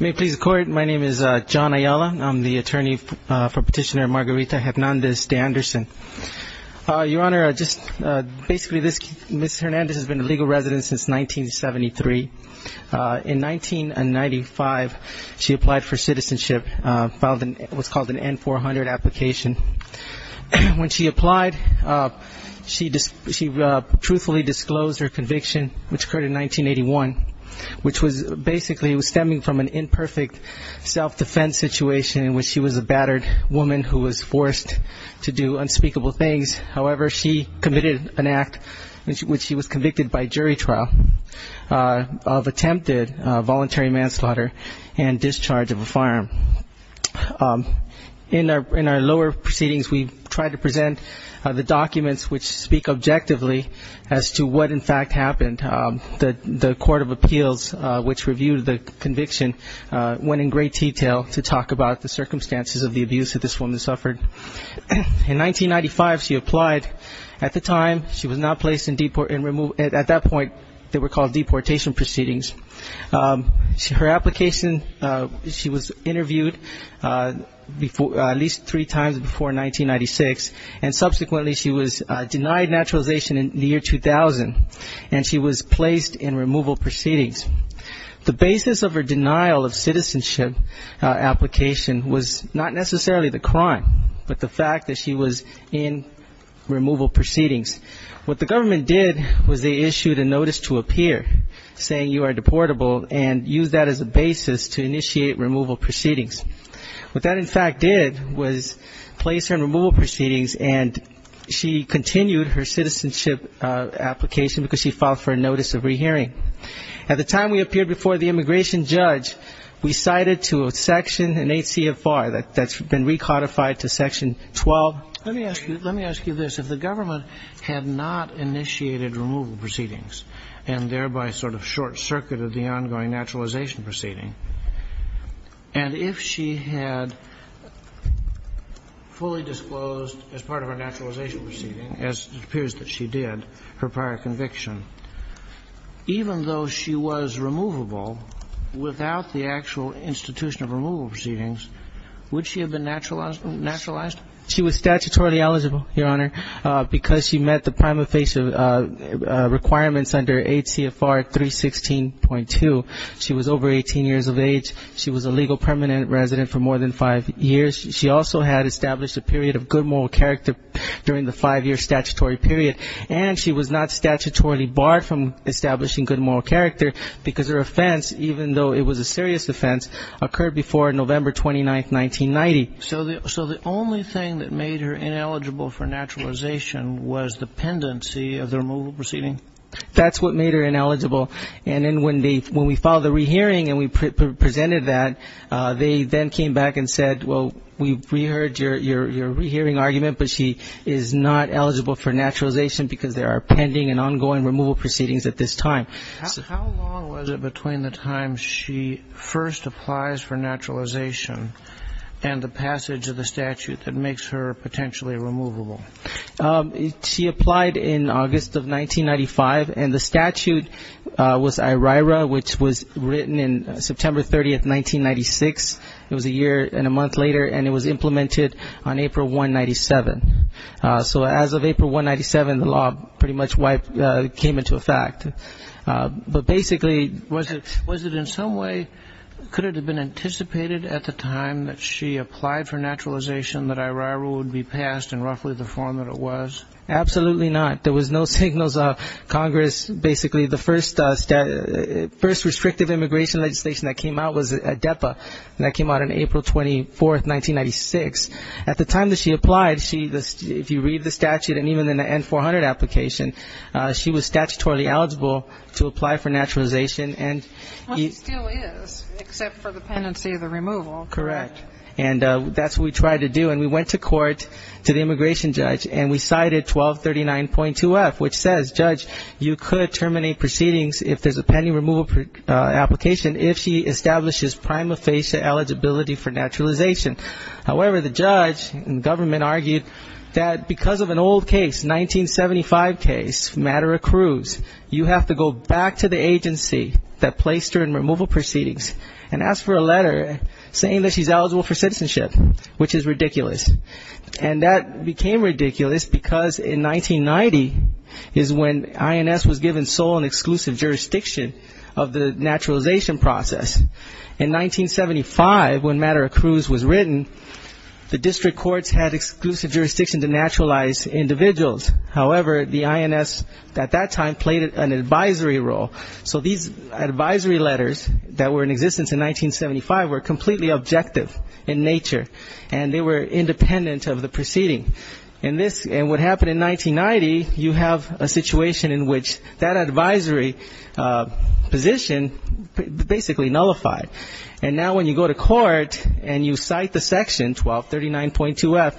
May it please the Court, my name is John Ayala, I'm the attorney for Petitioner Margarita Hernandez de Anderson. Your Honor, basically Ms. Hernandez has been a legal resident since 1973. In 1995, she applied for citizenship, filed what's called an N-400 application. When she applied, she truthfully disclosed her conviction, which occurred in 1981, which was basically stemming from an imperfect self-defense situation in which she was a battered woman who was forced to do unspeakable things. However, she committed an act in which she was convicted by jury trial of attempted voluntary manslaughter and discharge of a firearm. In our lower proceedings, we try to present the documents which speak objectively as to what in fact happened. The Court of Appeals, which reviewed the conviction, went in great detail to talk about the circumstances of the abuse that this woman suffered. In 1995, she applied. At the time, she was not placed in deportation, at that point they were called deportation proceedings. Her application, she was interviewed at least three times before 1996, and subsequently she was denied naturalization in the year 2000, and she was placed in removal proceedings. The basis of her denial of citizenship application was not necessarily the crime, but the fact that she was in removal proceedings. What the government did was they issued a notice to appear, saying you are deportable, and used that as a basis to initiate removal proceedings. What that in fact did was place her in removal proceedings, and she continued her citizenship application because she filed for a notice of rehearing. At the time we appeared before the immigration judge, we cited to a section in ACFR that's been recodified to section 12. Let me ask you this. If the government had not initiated removal proceedings, and thereby sort of short-circuited the ongoing naturalization proceeding, and if she had fully disclosed as part of her naturalization proceeding, as it appears that she did, her prior conviction, even though she was removable without the actual institution of removal proceedings, would she have been naturalized? She was statutorily eligible, Your Honor, because she met the prima facie requirements under ACFR 316.2. She was over 18 years of age. She was a legal permanent resident for more than five years. She also had established a period of good moral character during the five-year statutory period, and she was not statutorily barred from establishing good moral character because her offense, even though it was a serious offense, occurred before November 29, 1990. So the only thing that made her ineligible for naturalization was the pendency of the removal proceeding? That's what made her ineligible. And then when we filed the rehearing and we presented that, they then came back and said, well, we heard your rehearing argument, but she is not eligible for naturalization because there are pending and ongoing removal proceedings at this time. How long was it between the time she first applies for naturalization and the passage of the statute that makes her potentially removable? She applied in August of 1995, and the statute was IRIRA, which was written in September 30, 1996. It was a year and a month later, and it was implemented on April 1, 1997. So as of April 1, 1997, the law pretty much came into effect. But basically... Was it in some way, could it have been anticipated at the time that she applied for naturalization that IRIRA would be passed in roughly the form that it was? Absolutely not. There was no signals of Congress. Basically, the first restrictive immigration legislation that came out was ADEPA, and that came out on April 24, 1996. At the time that she applied, if you read the statute and even in the N-400 application, she was statutorily eligible to apply for naturalization. Well, she still is, except for the pendency of the removal. Correct. And that's what we tried to do. And we went to court, to the immigration judge, and we cited 1239.2F, which says, Judge, you could terminate proceedings if there's a pending removal application if she establishes prima facie eligibility for naturalization. However, the judge and government argued that because of an old case, 1975 case, Madera-Cruz, you have to go back to the agency that placed her in removal proceedings and ask for a letter saying that she's eligible for citizenship, which is ridiculous. And that became ridiculous because in 1990 is when INS was given sole and exclusive jurisdiction of the naturalization process. In 1975, when Madera-Cruz was written, the district courts had exclusive jurisdiction to naturalize individuals. However, the INS at that time played an advisory role. So these advisory letters that were in existence in 1975 were completely objective in nature, and they were independent of the proceeding. And what happened in 1990, you have a situation in which that advisory position basically nullified. And now when you go to court and you cite the section, 1239.2F,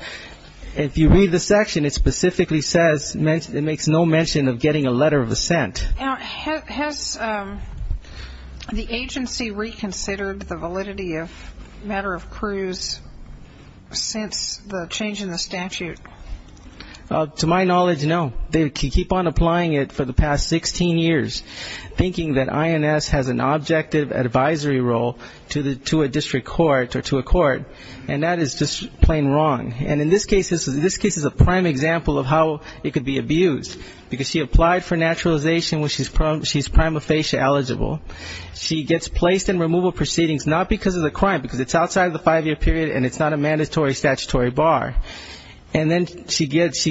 if you read the section, it specifically says it makes no mention of getting a letter of assent. Now, has the agency reconsidered the validity of Madera-Cruz since the change in the statute? To my knowledge, no. They keep on applying it for the past 16 years, thinking that INS has an objective advisory role to a district court or to a court, and that is just plain wrong. And in this case, this is a prime example of how it could be abused, because she applied for naturalization when she's prima facie eligible. She gets placed in removal proceedings not because of the crime, because it's outside of the five-year period and it's not a mandatory statutory bar. And then she goes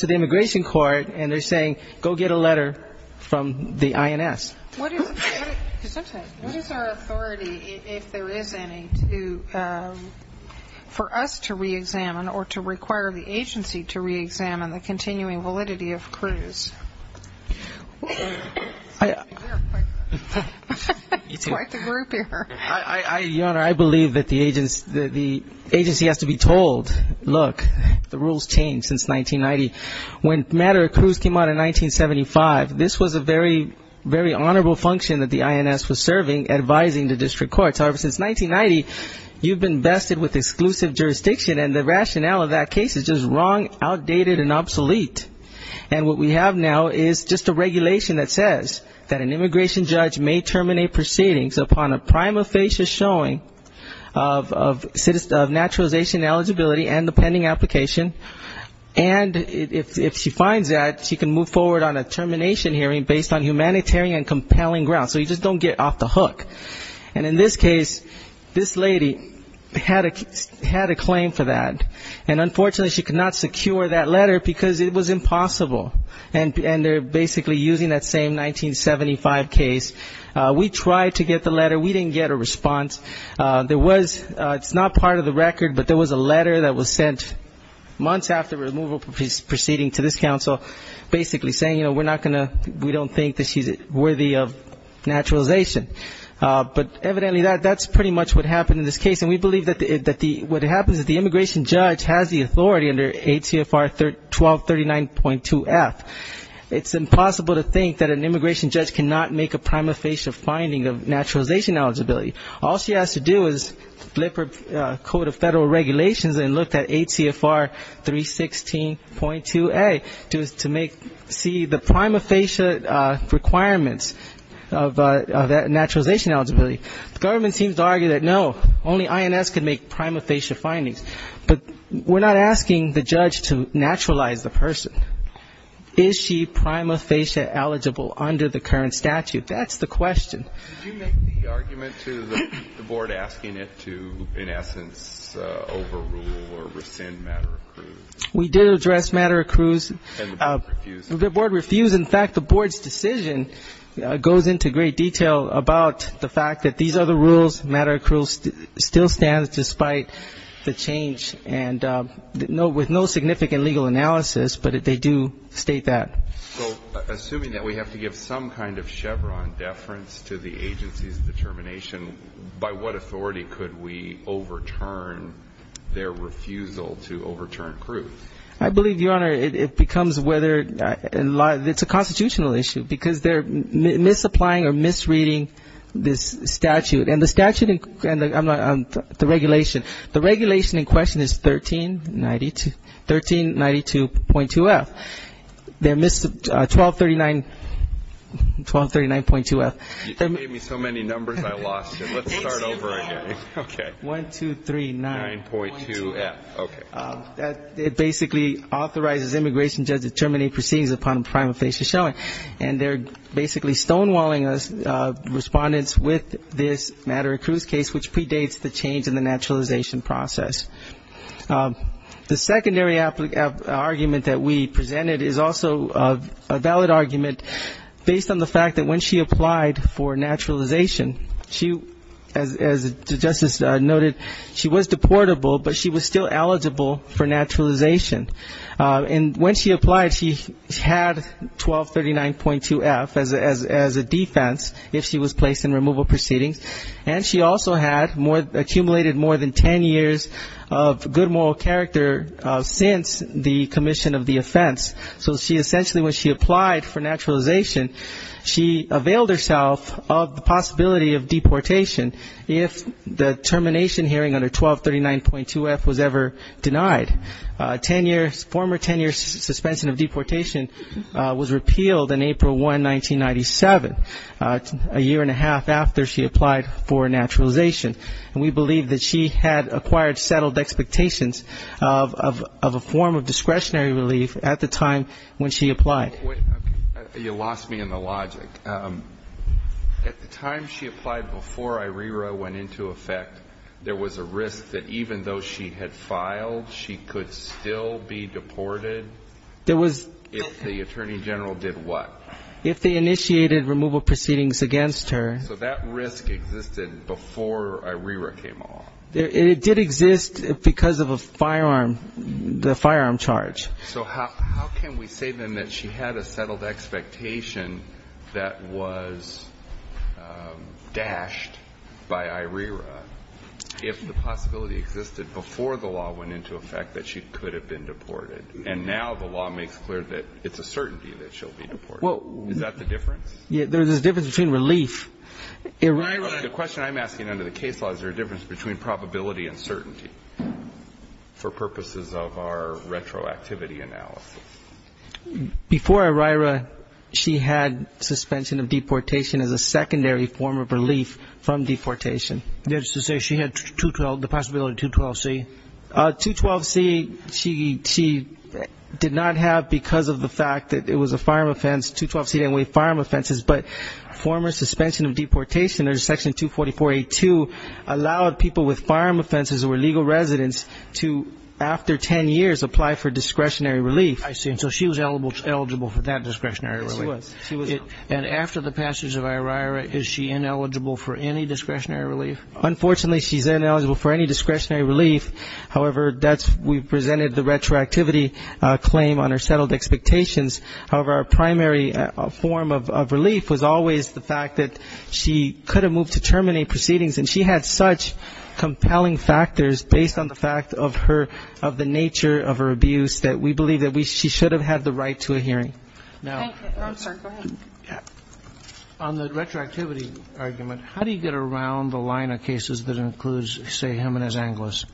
to the immigration court and they're saying, go get a letter from the INS. What is our authority, if there is any, for us to reexamine or to require the agency to reexamine the continuing validity of Cruz? You're quite the group here. Your Honor, I believe that the agency has to be told, look, the rules change since 1990. When Madera-Cruz came out in 1975, this was a very honorable function that the INS was serving, advising the district courts. However, since 1990, you've been vested with exclusive jurisdiction, and the rationale of that case is just wrong, outdated, and obsolete. And what we have now is just a regulation that says that an immigration judge may terminate proceedings upon a prima facie showing of naturalization eligibility and the pending application, and if she finds that, she can move forward on a termination hearing based on humanitarian and compelling grounds. So you just don't get off the hook. And in this case, this lady had a claim for that, and unfortunately she could not secure that letter because it was impossible. And they're basically using that same 1975 case. We tried to get the letter, we didn't get a response. There was, it's not part of the record, but there was a letter that was sent months after removal proceedings to this council, basically saying, you know, we're not going to, we don't think that she's worthy of naturalization. But evidently that's pretty much what happened in this case. And we believe that what happens is the immigration judge has the authority under ACFR 1239.2F. It's impossible to think that an immigration judge cannot make a prima facie finding of naturalization eligibility. All she has to do is flip her Code of Federal Regulations and look at ACFR 316.2A to see the prima facie requirements of naturalization eligibility. The government seems to argue that, no, only INS can make prima facie findings. But we're not asking the judge to naturalize the person. Is she prima facie eligible under the current statute? That's the question. Did you make the argument to the board asking it to, in essence, overrule or rescind Madera-Cruz? We did address Madera-Cruz. And the board refused? The board refused. In fact, the board's decision goes into great detail about the fact that these are the rules. Madera-Cruz still stands despite the change and with no significant legal analysis, but they do state that. So assuming that we have to give some kind of Chevron deference to the agency's determination, by what authority could we overturn their refusal to overturn Cruz? I believe, Your Honor, it becomes whether it's a constitutional issue, because they're misapplying or misreading this statute. And the regulation in question is 1392.2F. They missed 1239.2F. You gave me so many numbers I lost it. Let's start over again. 1239.2F. It basically authorizes immigration judges to terminate proceedings upon a prima facie showing. And they're basically stonewalling respondents with this Madera-Cruz case, which predates the change in the naturalization process. The secondary argument that we presented is also a valid argument, based on the fact that when she applied for naturalization, as Justice noted, she was deportable, but she was still eligible for naturalization. And when she applied, she had 1239.2F as a defense if she was placed in removal proceedings, and she also had accumulated more than 10 years of good moral character since the commission of the offense. So she essentially, when she applied for naturalization, she availed herself of the possibility of deportation if the termination hearing under 1239.2F was ever denied. Former 10-year suspension of deportation was repealed on April 1, 1997, a year and a half after she applied for naturalization. And we believe that she had acquired settled expectations of a form of discretionary relief at the time when she applied. You lost me in the logic. At the time she applied before IRERA went into effect, there was a risk that even though she had filed, she could still be deported? If the attorney general did what? If they initiated removal proceedings against her. So that risk existed before IRERA came along? It did exist because of a firearm, the firearm charge. So how can we say, then, that she had a settled expectation that was dashed by IRERA, if the possibility existed before the law went into effect that she could have been deported? And now the law makes clear that it's a certainty that she'll be deported. Is that the difference? There's a difference between relief. IRERA. The question I'm asking under the case law, is there a difference between probability and certainty for purposes of our retroactivity analysis? Before IRERA, she had suspension of deportation as a secondary form of relief from deportation. That's to say she had 212, the possibility of 212C? 212C, she did not have because of the fact that it was a firearm offense. 212C didn't waive firearm offenses, but former suspension of deportation under Section 244A.2 allowed people with firearm offenses who were legal residents to, after ten years, apply for discretionary relief. I see. And so she was eligible for that discretionary relief. She was. And after the passage of IRERA, is she ineligible for any discretionary relief? Unfortunately, she's ineligible for any discretionary relief. However, we presented the retroactivity claim on her settled expectations. However, our primary form of relief was always the fact that she could have moved to terminate proceedings, and she had such compelling factors based on the fact of her, of the nature of her abuse, that we believe that she should have had the right to a hearing. Now, on the retroactivity argument, how do you get around the line of cases that includes, say, Jimenez-Anglos?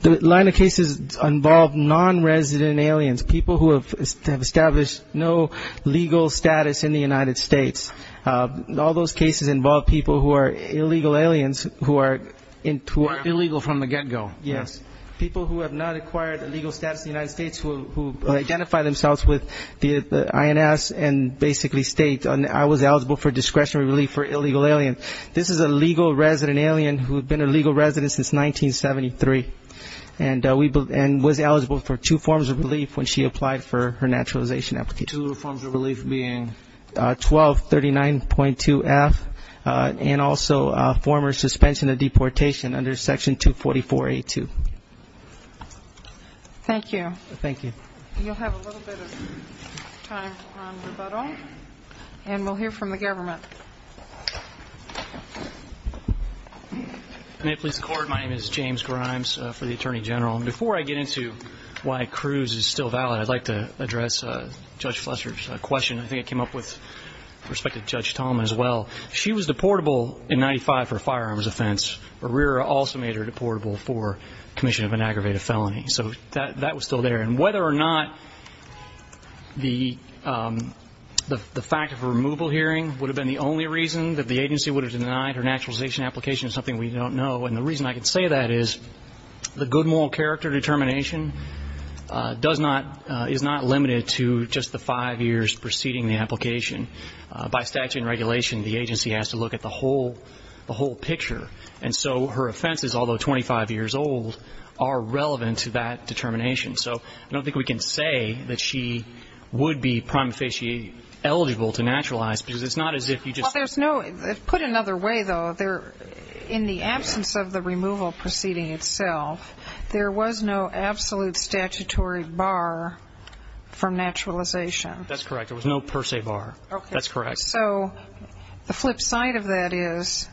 The line of cases involve non-resident aliens, people who have established no legal status in the United States. All those cases involve people who are illegal aliens, who are into the- Illegal from the get-go. Yes. People who have not acquired a legal status in the United States, who identify themselves with the INS and basically state, I was eligible for discretionary relief for illegal alien. This is a legal resident alien who had been a legal resident since 1973 and was eligible for two forms of relief when she applied for her naturalization application. Two forms of relief being? 1239.2F and also former suspension of deportation under Section 244A2. Thank you. Thank you. You'll have a little bit of time for rebuttal, and we'll hear from the government. May it please the Court, my name is James Grimes for the Attorney General. Before I get into why Cruz is still valid, I'd like to address Judge Fletcher's question. I think it came up with respect to Judge Tallman as well. She was deportable in 1995 for a firearms offense. Herrera also made her deportable for commission of an aggravated felony. So that was still there. And whether or not the fact of her removal hearing would have been the only reason that the agency would have denied her naturalization application is something we don't know. And the reason I can say that is the good moral character determination does not- By statute and regulation, the agency has to look at the whole picture. And so her offenses, although 25 years old, are relevant to that determination. So I don't think we can say that she would be prima facie eligible to naturalize, because it's not as if you just- Well, there's no-put another way, though. In the absence of the removal proceeding itself, there was no absolute statutory bar for naturalization. That's correct. There was no per se bar. That's correct. So the flip side of that is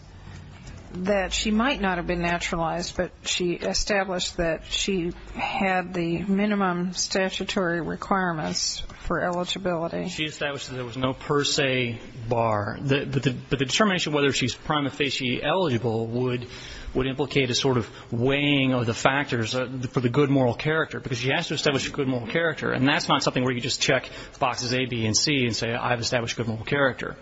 that she might not have been naturalized, but she established that she had the minimum statutory requirements for eligibility. She established that there was no per se bar. But the determination of whether she's prima facie eligible would implicate a sort of weighing of the factors for the good moral character, because she has to establish a good moral character. And that's not something where you just check boxes A, B, and C and say, I've established a good moral character.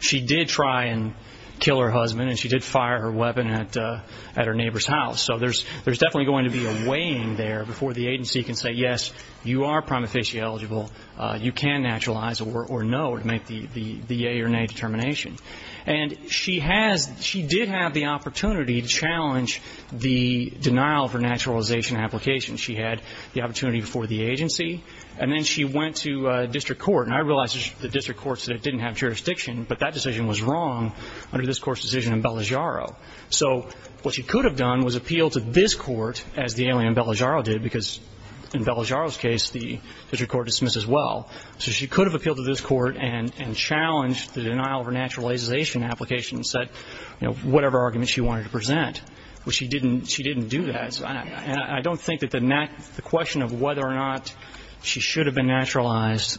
She did try and kill her husband, and she did fire her weapon at her neighbor's house. So there's definitely going to be a weighing there before the agency can say, yes, you are prima facie eligible. You can naturalize, or no, to make the yay or nay determination. And she has-she did have the opportunity to challenge the denial of her naturalization application. She had the opportunity before the agency. And then she went to district court. And I realize the district courts didn't have jurisdiction, but that decision was wrong under this Court's decision in Belligiaro. So what she could have done was appeal to this court, as the alien in Belligiaro did, because in Belligiaro's case the district court dismisses well. So she could have appealed to this court and challenged the denial of her naturalization application and said, you know, whatever argument she wanted to present. But she didn't do that. And I don't think that the question of whether or not she should have been naturalized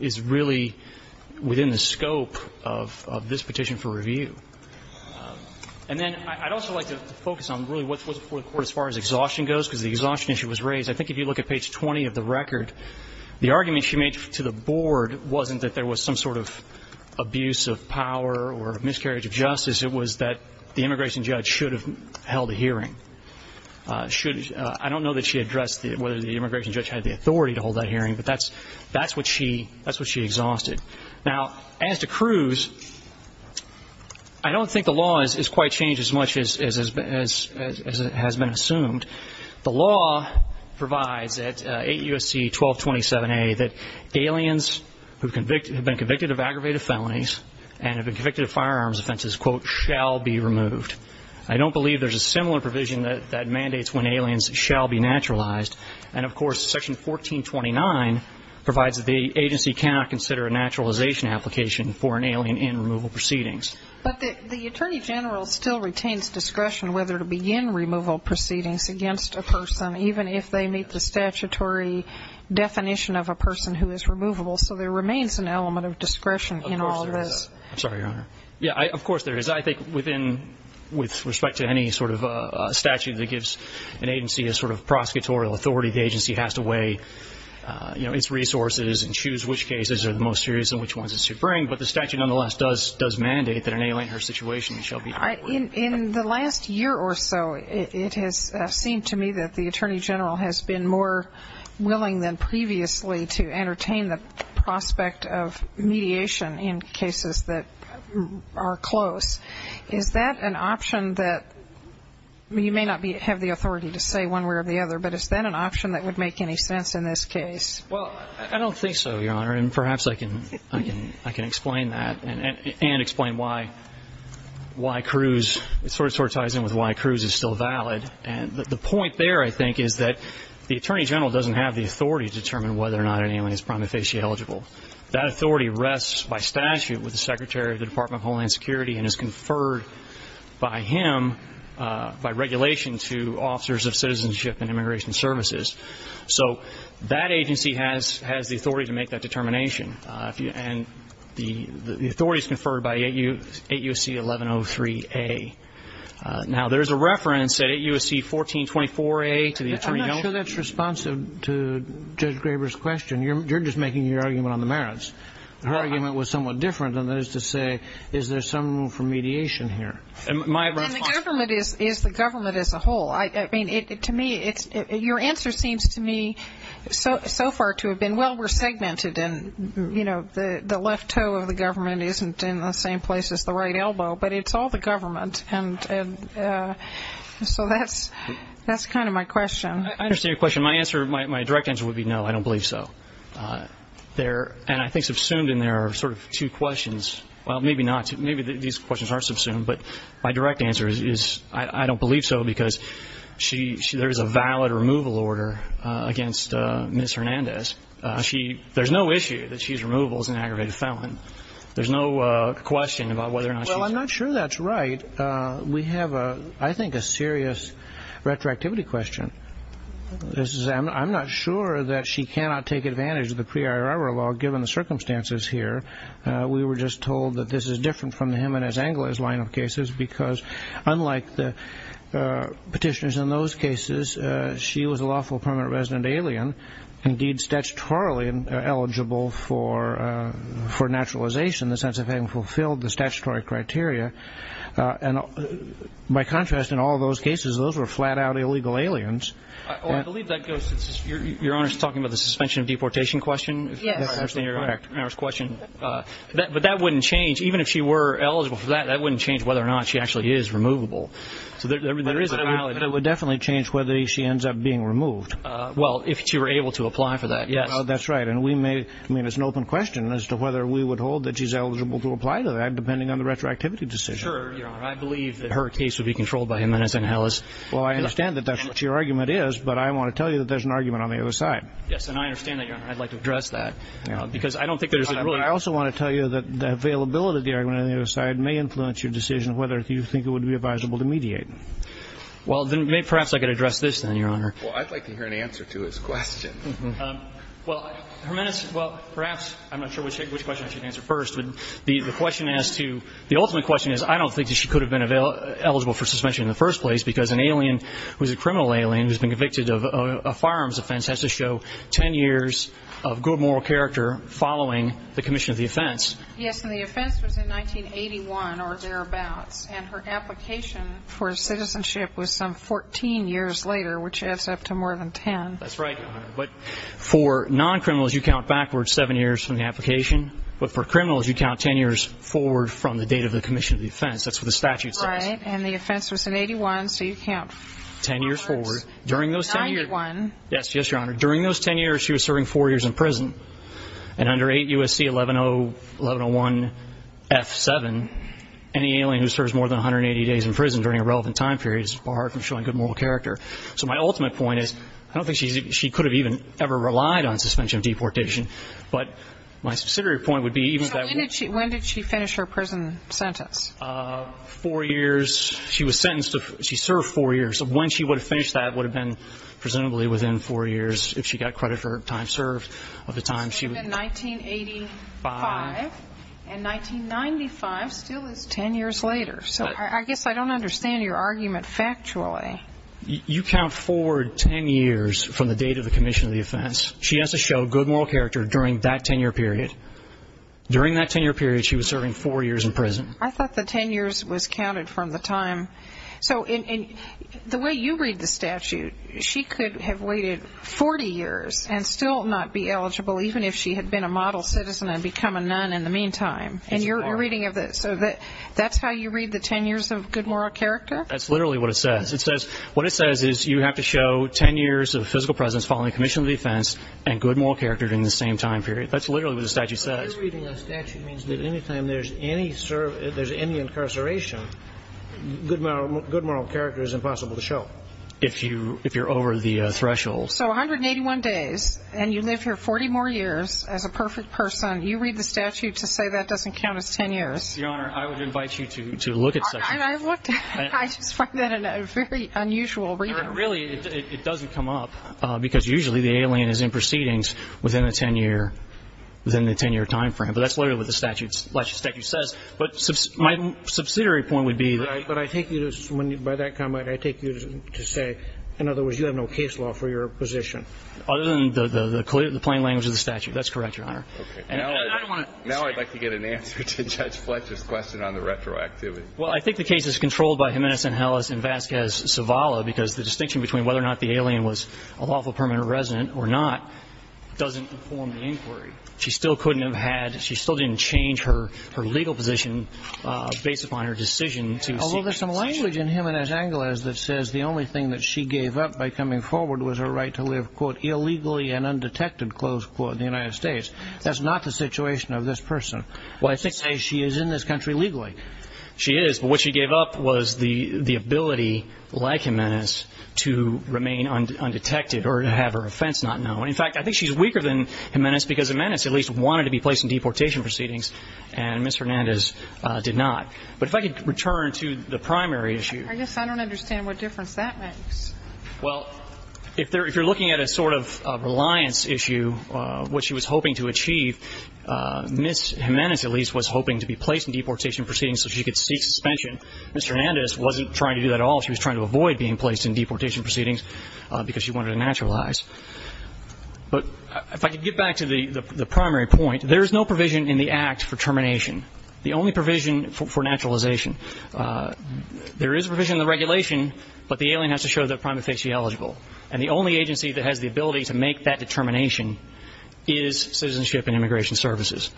is really within the scope of this petition for review. And then I'd also like to focus on really what's before the court as far as exhaustion goes, because the exhaustion issue was raised. I think if you look at page 20 of the record, the argument she made to the board wasn't that there was some sort of abuse of power or miscarriage of justice. It was that the immigration judge should have held a hearing. I don't know that she addressed whether the immigration judge had the authority to hold that hearing, but that's what she exhausted. Now, as to Cruz, I don't think the law has quite changed as much as has been assumed. The law provides at 8 U.S.C. 1227A that aliens who have been convicted of aggravated felonies and have been convicted of firearms offenses, quote, shall be removed. I don't believe there's a similar provision that mandates when aliens shall be naturalized. And, of course, Section 1429 provides that the agency cannot consider a naturalization application for an alien in removal proceedings. But the attorney general still retains discretion whether to begin removal proceedings against a person, even if they meet the statutory definition of a person who is removable. So there remains an element of discretion in all this. I'm sorry, Your Honor. Yeah, of course there is. I think within with respect to any sort of statute that gives an agency a sort of prosecutorial authority, the agency has to weigh, you know, its resources and choose which cases are the most serious and which ones it should bring. But the statute nonetheless does mandate that an alien in her situation shall be removed. In the last year or so, it has seemed to me that the attorney general has been more willing than previously to entertain the prospect of mediation in cases that are close. Is that an option that you may not have the authority to say one way or the other, but is that an option that would make any sense in this case? Well, I don't think so, Your Honor, and perhaps I can explain that and explain why Cruz sort of ties in with why Cruz is still valid. And the point there, I think, is that the attorney general doesn't have the authority to determine whether or not an alien is prima facie eligible. That authority rests by statute with the secretary of the Department of Homeland Security and is conferred by him by regulation to officers of citizenship and immigration services. So that agency has the authority to make that determination. And the authority is conferred by 8 U.S.C. 1103A. Now, there is a reference at 8 U.S.C. 1424A to the attorney general. I'm not sure that's responsive to Judge Graber's question. You're just making your argument on the merits. Her argument was somewhat different, and that is to say, is there some room for mediation here? And the government is the government as a whole. I mean, to me, your answer seems to me so far to have been, well, we're segmented and the left toe of the government isn't in the same place as the right elbow, but it's all the government. So that's kind of my question. I understand your question. My direct answer would be no, I don't believe so. And I think subsumed in there are sort of two questions. Well, maybe not. Maybe these questions aren't subsumed. But my direct answer is I don't believe so, because there is a valid removal order against Ms. Hernandez. There's no issue that she's removable as an aggravated felon. There's no question about whether or not she's. Well, I'm not sure that's right. We have, I think, a serious retroactivity question. I'm not sure that she cannot take advantage of the prior error law, given the circumstances here. We were just told that this is different from the Hernandez-Angeles line of cases, because unlike the petitioners in those cases, she was a lawful permanent resident alien, indeed statutorily eligible for naturalization in the sense of having fulfilled the statutory criteria. And by contrast, in all those cases, those were flat-out illegal aliens. I believe that goes to your Honor's talking about the suspension of deportation question. Yes. But that wouldn't change. Even if she were eligible for that, that wouldn't change whether or not she actually is removable. But it would definitely change whether she ends up being removed. Well, if she were able to apply for that, yes. That's right. I mean, it's an open question as to whether we would hold that she's eligible to apply to that, depending on the retroactivity decision. Sure, Your Honor. I believe that her case would be controlled by Hernandez-Angeles. Well, I understand that that's what your argument is, but I want to tell you that there's an argument on the other side. Yes, and I understand that, Your Honor. I'd like to address that because I don't think there's a really – I also want to tell you that the availability of the argument on the other side may influence your decision whether you think it would be advisable to mediate. Well, then perhaps I could address this then, Your Honor. Well, I'd like to hear an answer to his question. Well, Hernandez – well, perhaps – I'm not sure which question I should answer first. But the question as to – the ultimate question is I don't think that she could have been eligible for suspension in the first place because an alien who's a criminal alien who's been convicted of a firearms offense has to show 10 years of good moral character following the commission of the offense. Yes, and the offense was in 1981 or thereabouts, and her application for citizenship was some 14 years later, which adds up to more than 10. That's right, Your Honor. But for non-criminals, you count backwards 7 years from the application. But for criminals, you count 10 years forward from the date of the commission of the offense. That's what the statute says. Right, and the offense was in 81, so you count backwards 91. Yes, yes, Your Honor. During those 10 years, she was serving 4 years in prison. And under 8 U.S.C. 1101-F7, any alien who serves more than 180 days in prison during a relevant time period is barred from showing good moral character. So my ultimate point is I don't think she could have even ever relied on suspension of deportation. But my subsidiary point would be even if that were – So when did she finish her prison sentence? Four years. She was sentenced to – she served four years. So when she would have finished that would have been presumably within four years if she got credit for time served of the time she was – It would have been 1985, and 1995 still is 10 years later. So I guess I don't understand your argument factually. You count forward 10 years from the date of the commission of the offense. She has to show good moral character during that 10-year period. During that 10-year period, she was serving four years in prison. I thought the 10 years was counted from the time – So the way you read the statute, she could have waited 40 years and still not be eligible even if she had been a model citizen and become a nun in the meantime. So that's how you read the 10 years of good moral character? That's literally what it says. What it says is you have to show 10 years of physical presence following the commission of the offense and good moral character during the same time period. That's literally what the statute says. If you're reading a statute, it means that any time there's any incarceration, good moral character is impossible to show. If you're over the threshold. So 181 days, and you live here 40 more years as a perfect person, you read the statute to say that doesn't count as 10 years. Your Honor, I would invite you to look at sections. I've looked. I just find that a very unusual reading. Really, it doesn't come up because usually the alien is in proceedings within the 10-year time frame. But that's literally what the statute says. But my subsidiary point would be that. But I take you to, by that comment, I take you to say, in other words, you have no case law for your position. Other than the plain language of the statute. That's correct, Your Honor. Now I'd like to get an answer to Judge Fletcher's question on the retroactivity. Well, I think the case is controlled by Jimenez-Angeles and Vasquez-Zavala because the distinction between whether or not the alien was a lawful permanent resident or not doesn't inform the inquiry. She still couldn't have had, she still didn't change her legal position based upon her decision. Although there's some language in Jimenez-Angeles that says the only thing that she gave up by coming forward was her right to live, quote, illegally and undetected, close quote, in the United States. That's not the situation of this person. Well, I think she says she is in this country legally. She is. But what she gave up was the ability, like Jimenez, to remain undetected or to have her offense not known. In fact, I think she's weaker than Jimenez because Jimenez at least wanted to be placed in deportation proceedings and Ms. Hernandez did not. But if I could return to the primary issue. I guess I don't understand what difference that makes. Well, if you're looking at a sort of reliance issue, what she was hoping to achieve, Ms. Jimenez at least was hoping to be placed in deportation proceedings so she could seek suspension. Mr. Hernandez wasn't trying to do that at all. She was trying to avoid being placed in deportation proceedings because she wanted to naturalize. But if I could get back to the primary point, there is no provision in the Act for termination. The only provision for naturalization. There is a provision in the regulation, but the alien has to show that prima facie eligible. And the only agency that has the ability to make that determination is Citizenship and Immigration Services.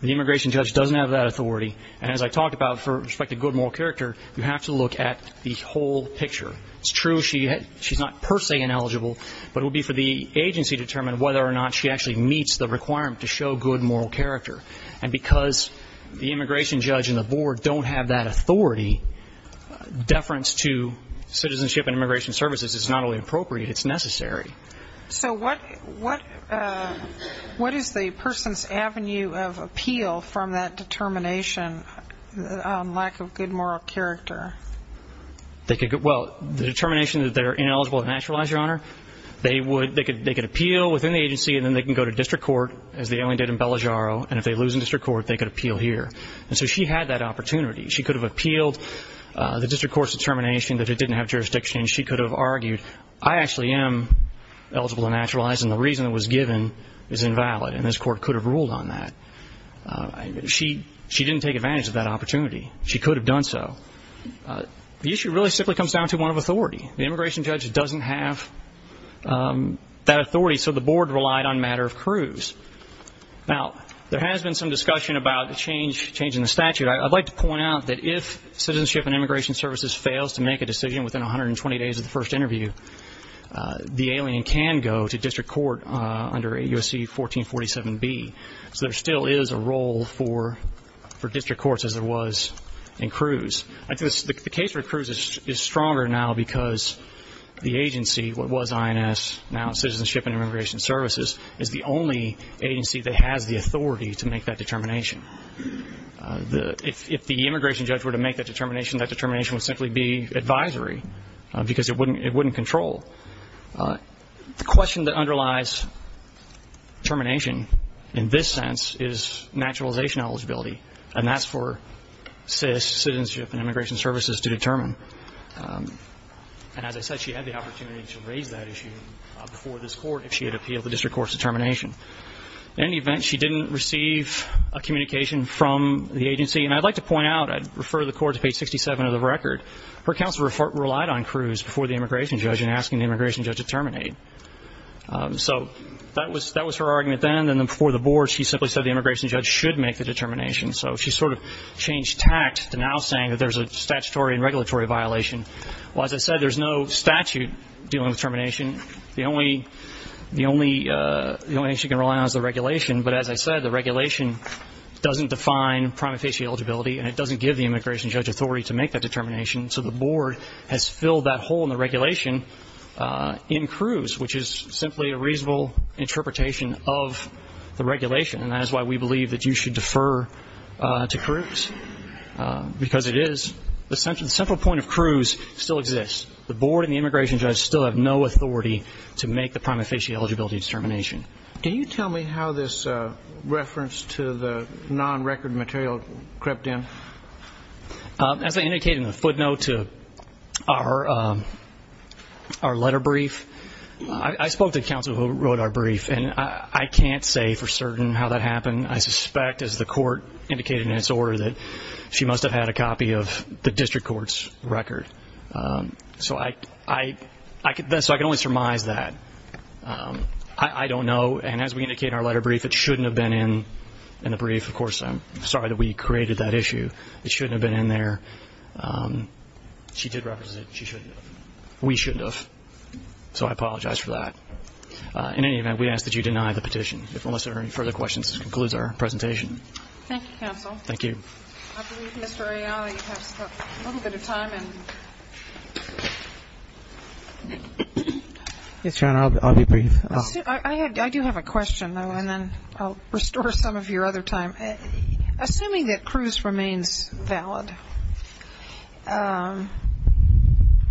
The immigration judge doesn't have that authority. And as I talked about for respect to good moral character, you have to look at the whole picture. It's true she's not per se ineligible, but it would be for the agency to determine whether or not she actually meets the requirement to show good moral character. And because the immigration judge and the board don't have that authority, deference to Citizenship and Immigration Services is not only appropriate, it's necessary. So what is the person's avenue of appeal from that determination on lack of good moral character? Well, the determination that they're ineligible to naturalize, Your Honor, they could appeal within the agency and then they can go to district court, as the alien did in Bellagioro. And if they lose in district court, they could appeal here. And so she had that opportunity. She could have appealed the district court's determination that it didn't have jurisdiction. She could have argued, I actually am eligible to naturalize, and the reason it was given is invalid. And this court could have ruled on that. She didn't take advantage of that opportunity. She could have done so. The issue really simply comes down to one of authority. The immigration judge doesn't have that authority, so the board relied on matter of cruise. Now, there has been some discussion about the change in the statute. I'd like to point out that if Citizenship and Immigration Services fails to make a decision within 120 days of the first interview, the alien can go to district court under USC 1447B. So there still is a role for district courts, as there was in cruise. The case for cruise is stronger now because the agency, what was INS, now Citizenship and Immigration Services, is the only agency that has the authority to make that determination. If the immigration judge were to make that determination, that determination would simply be advisory because it wouldn't control. The question that underlies termination in this sense is naturalization eligibility, and that's for CIS, Citizenship and Immigration Services, to determine. And as I said, she had the opportunity to raise that issue before this court if she had appealed the district court's determination. In any event, she didn't receive a communication from the agency. And I'd like to point out, I'd refer the court to page 67 of the record, her counsel relied on cruise before the immigration judge in asking the immigration judge to terminate. So that was her argument then, and then before the board, she simply said the immigration judge should make the determination. So she sort of changed tact to now saying that there's a statutory and regulatory violation. The only thing she can rely on is the regulation, but as I said, the regulation doesn't define prima facie eligibility, and it doesn't give the immigration judge authority to make that determination. So the board has filled that hole in the regulation in cruise, which is simply a reasonable interpretation of the regulation, and that is why we believe that you should defer to cruise, because it is. The central point of cruise still exists. The board and the immigration judge still have no authority to make the prima facie eligibility determination. Can you tell me how this reference to the non-record material crept in? As I indicated in the footnote to our letter brief, I spoke to counsel who wrote our brief, and I can't say for certain how that happened. I suspect, as the court indicated in its order, that she must have had a copy of the district court's record. So I can only surmise that. I don't know, and as we indicated in our letter brief, it shouldn't have been in the brief. Of course, I'm sorry that we created that issue. It shouldn't have been in there. She did reference it. She shouldn't have. We shouldn't have, so I apologize for that. In any event, we ask that you deny the petition, unless there are any further questions, which concludes our presentation. Thank you, counsel. Thank you. I believe Mr. Arialy has a little bit of time. Yes, Your Honor, I'll be brief. I do have a question, though, and then I'll restore some of your other time. Assuming that cruise remains valid,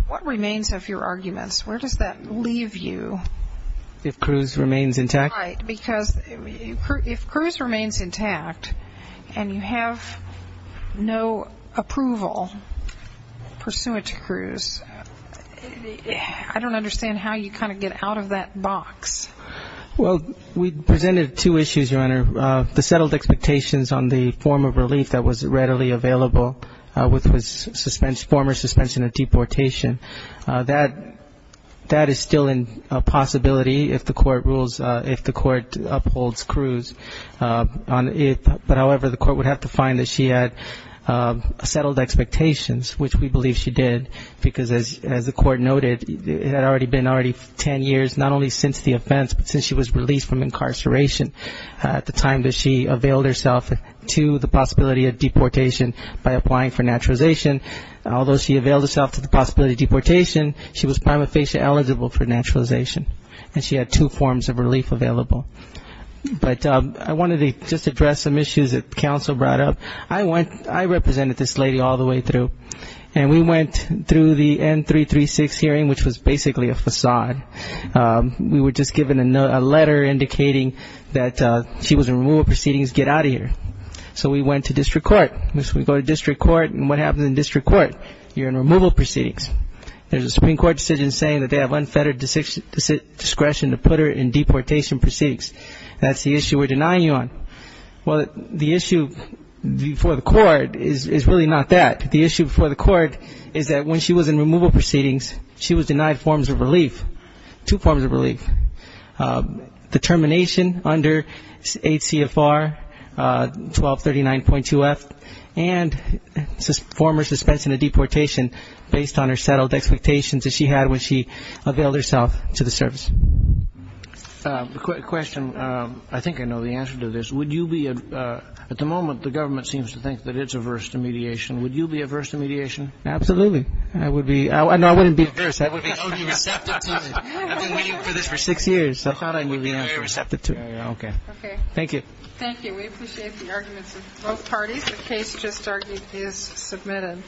what remains of your arguments? Where does that leave you? If cruise remains intact? Right, because if cruise remains intact and you have no approval pursuant to cruise, I don't understand how you kind of get out of that box. Well, we presented two issues, Your Honor, the settled expectations on the form of relief that was readily available with former suspension of deportation. That is still a possibility if the court rules, if the court upholds cruise. But, however, the court would have to find that she had settled expectations, which we believe she did, because, as the court noted, it had already been already ten years, not only since the offense, but since she was released from incarceration, at the time that she availed herself to the possibility of deportation by applying for naturalization. Although she availed herself to the possibility of deportation, she was prima facie eligible for naturalization, and she had two forms of relief available. But I wanted to just address some issues that counsel brought up. I represented this lady all the way through, and we went through the N336 hearing, which was basically a facade. We were just given a letter indicating that she was in rule of proceedings, get out of here. So we went to district court. So we go to district court, and what happens in district court? You're in removal proceedings. There's a Supreme Court decision saying that they have unfettered discretion to put her in deportation proceedings. That's the issue we're denying you on. Well, the issue before the court is really not that. The issue before the court is that when she was in removal proceedings, she was denied forms of relief, two forms of relief, the termination under 8 CFR, 1239.2F, and former suspension of deportation based on her settled expectations that she had when she availed herself to the service. Quick question. I think I know the answer to this. Would you be at the moment the government seems to think that it's averse to mediation. Would you be averse to mediation? Absolutely. I would be. No, I wouldn't be averse. I would be receptive to it. I've been waiting for this for six years. I thought I knew the answer. I would be very receptive to it. Okay. Okay. Thank you. Thank you. We appreciate the arguments of both parties. The case just is submitted.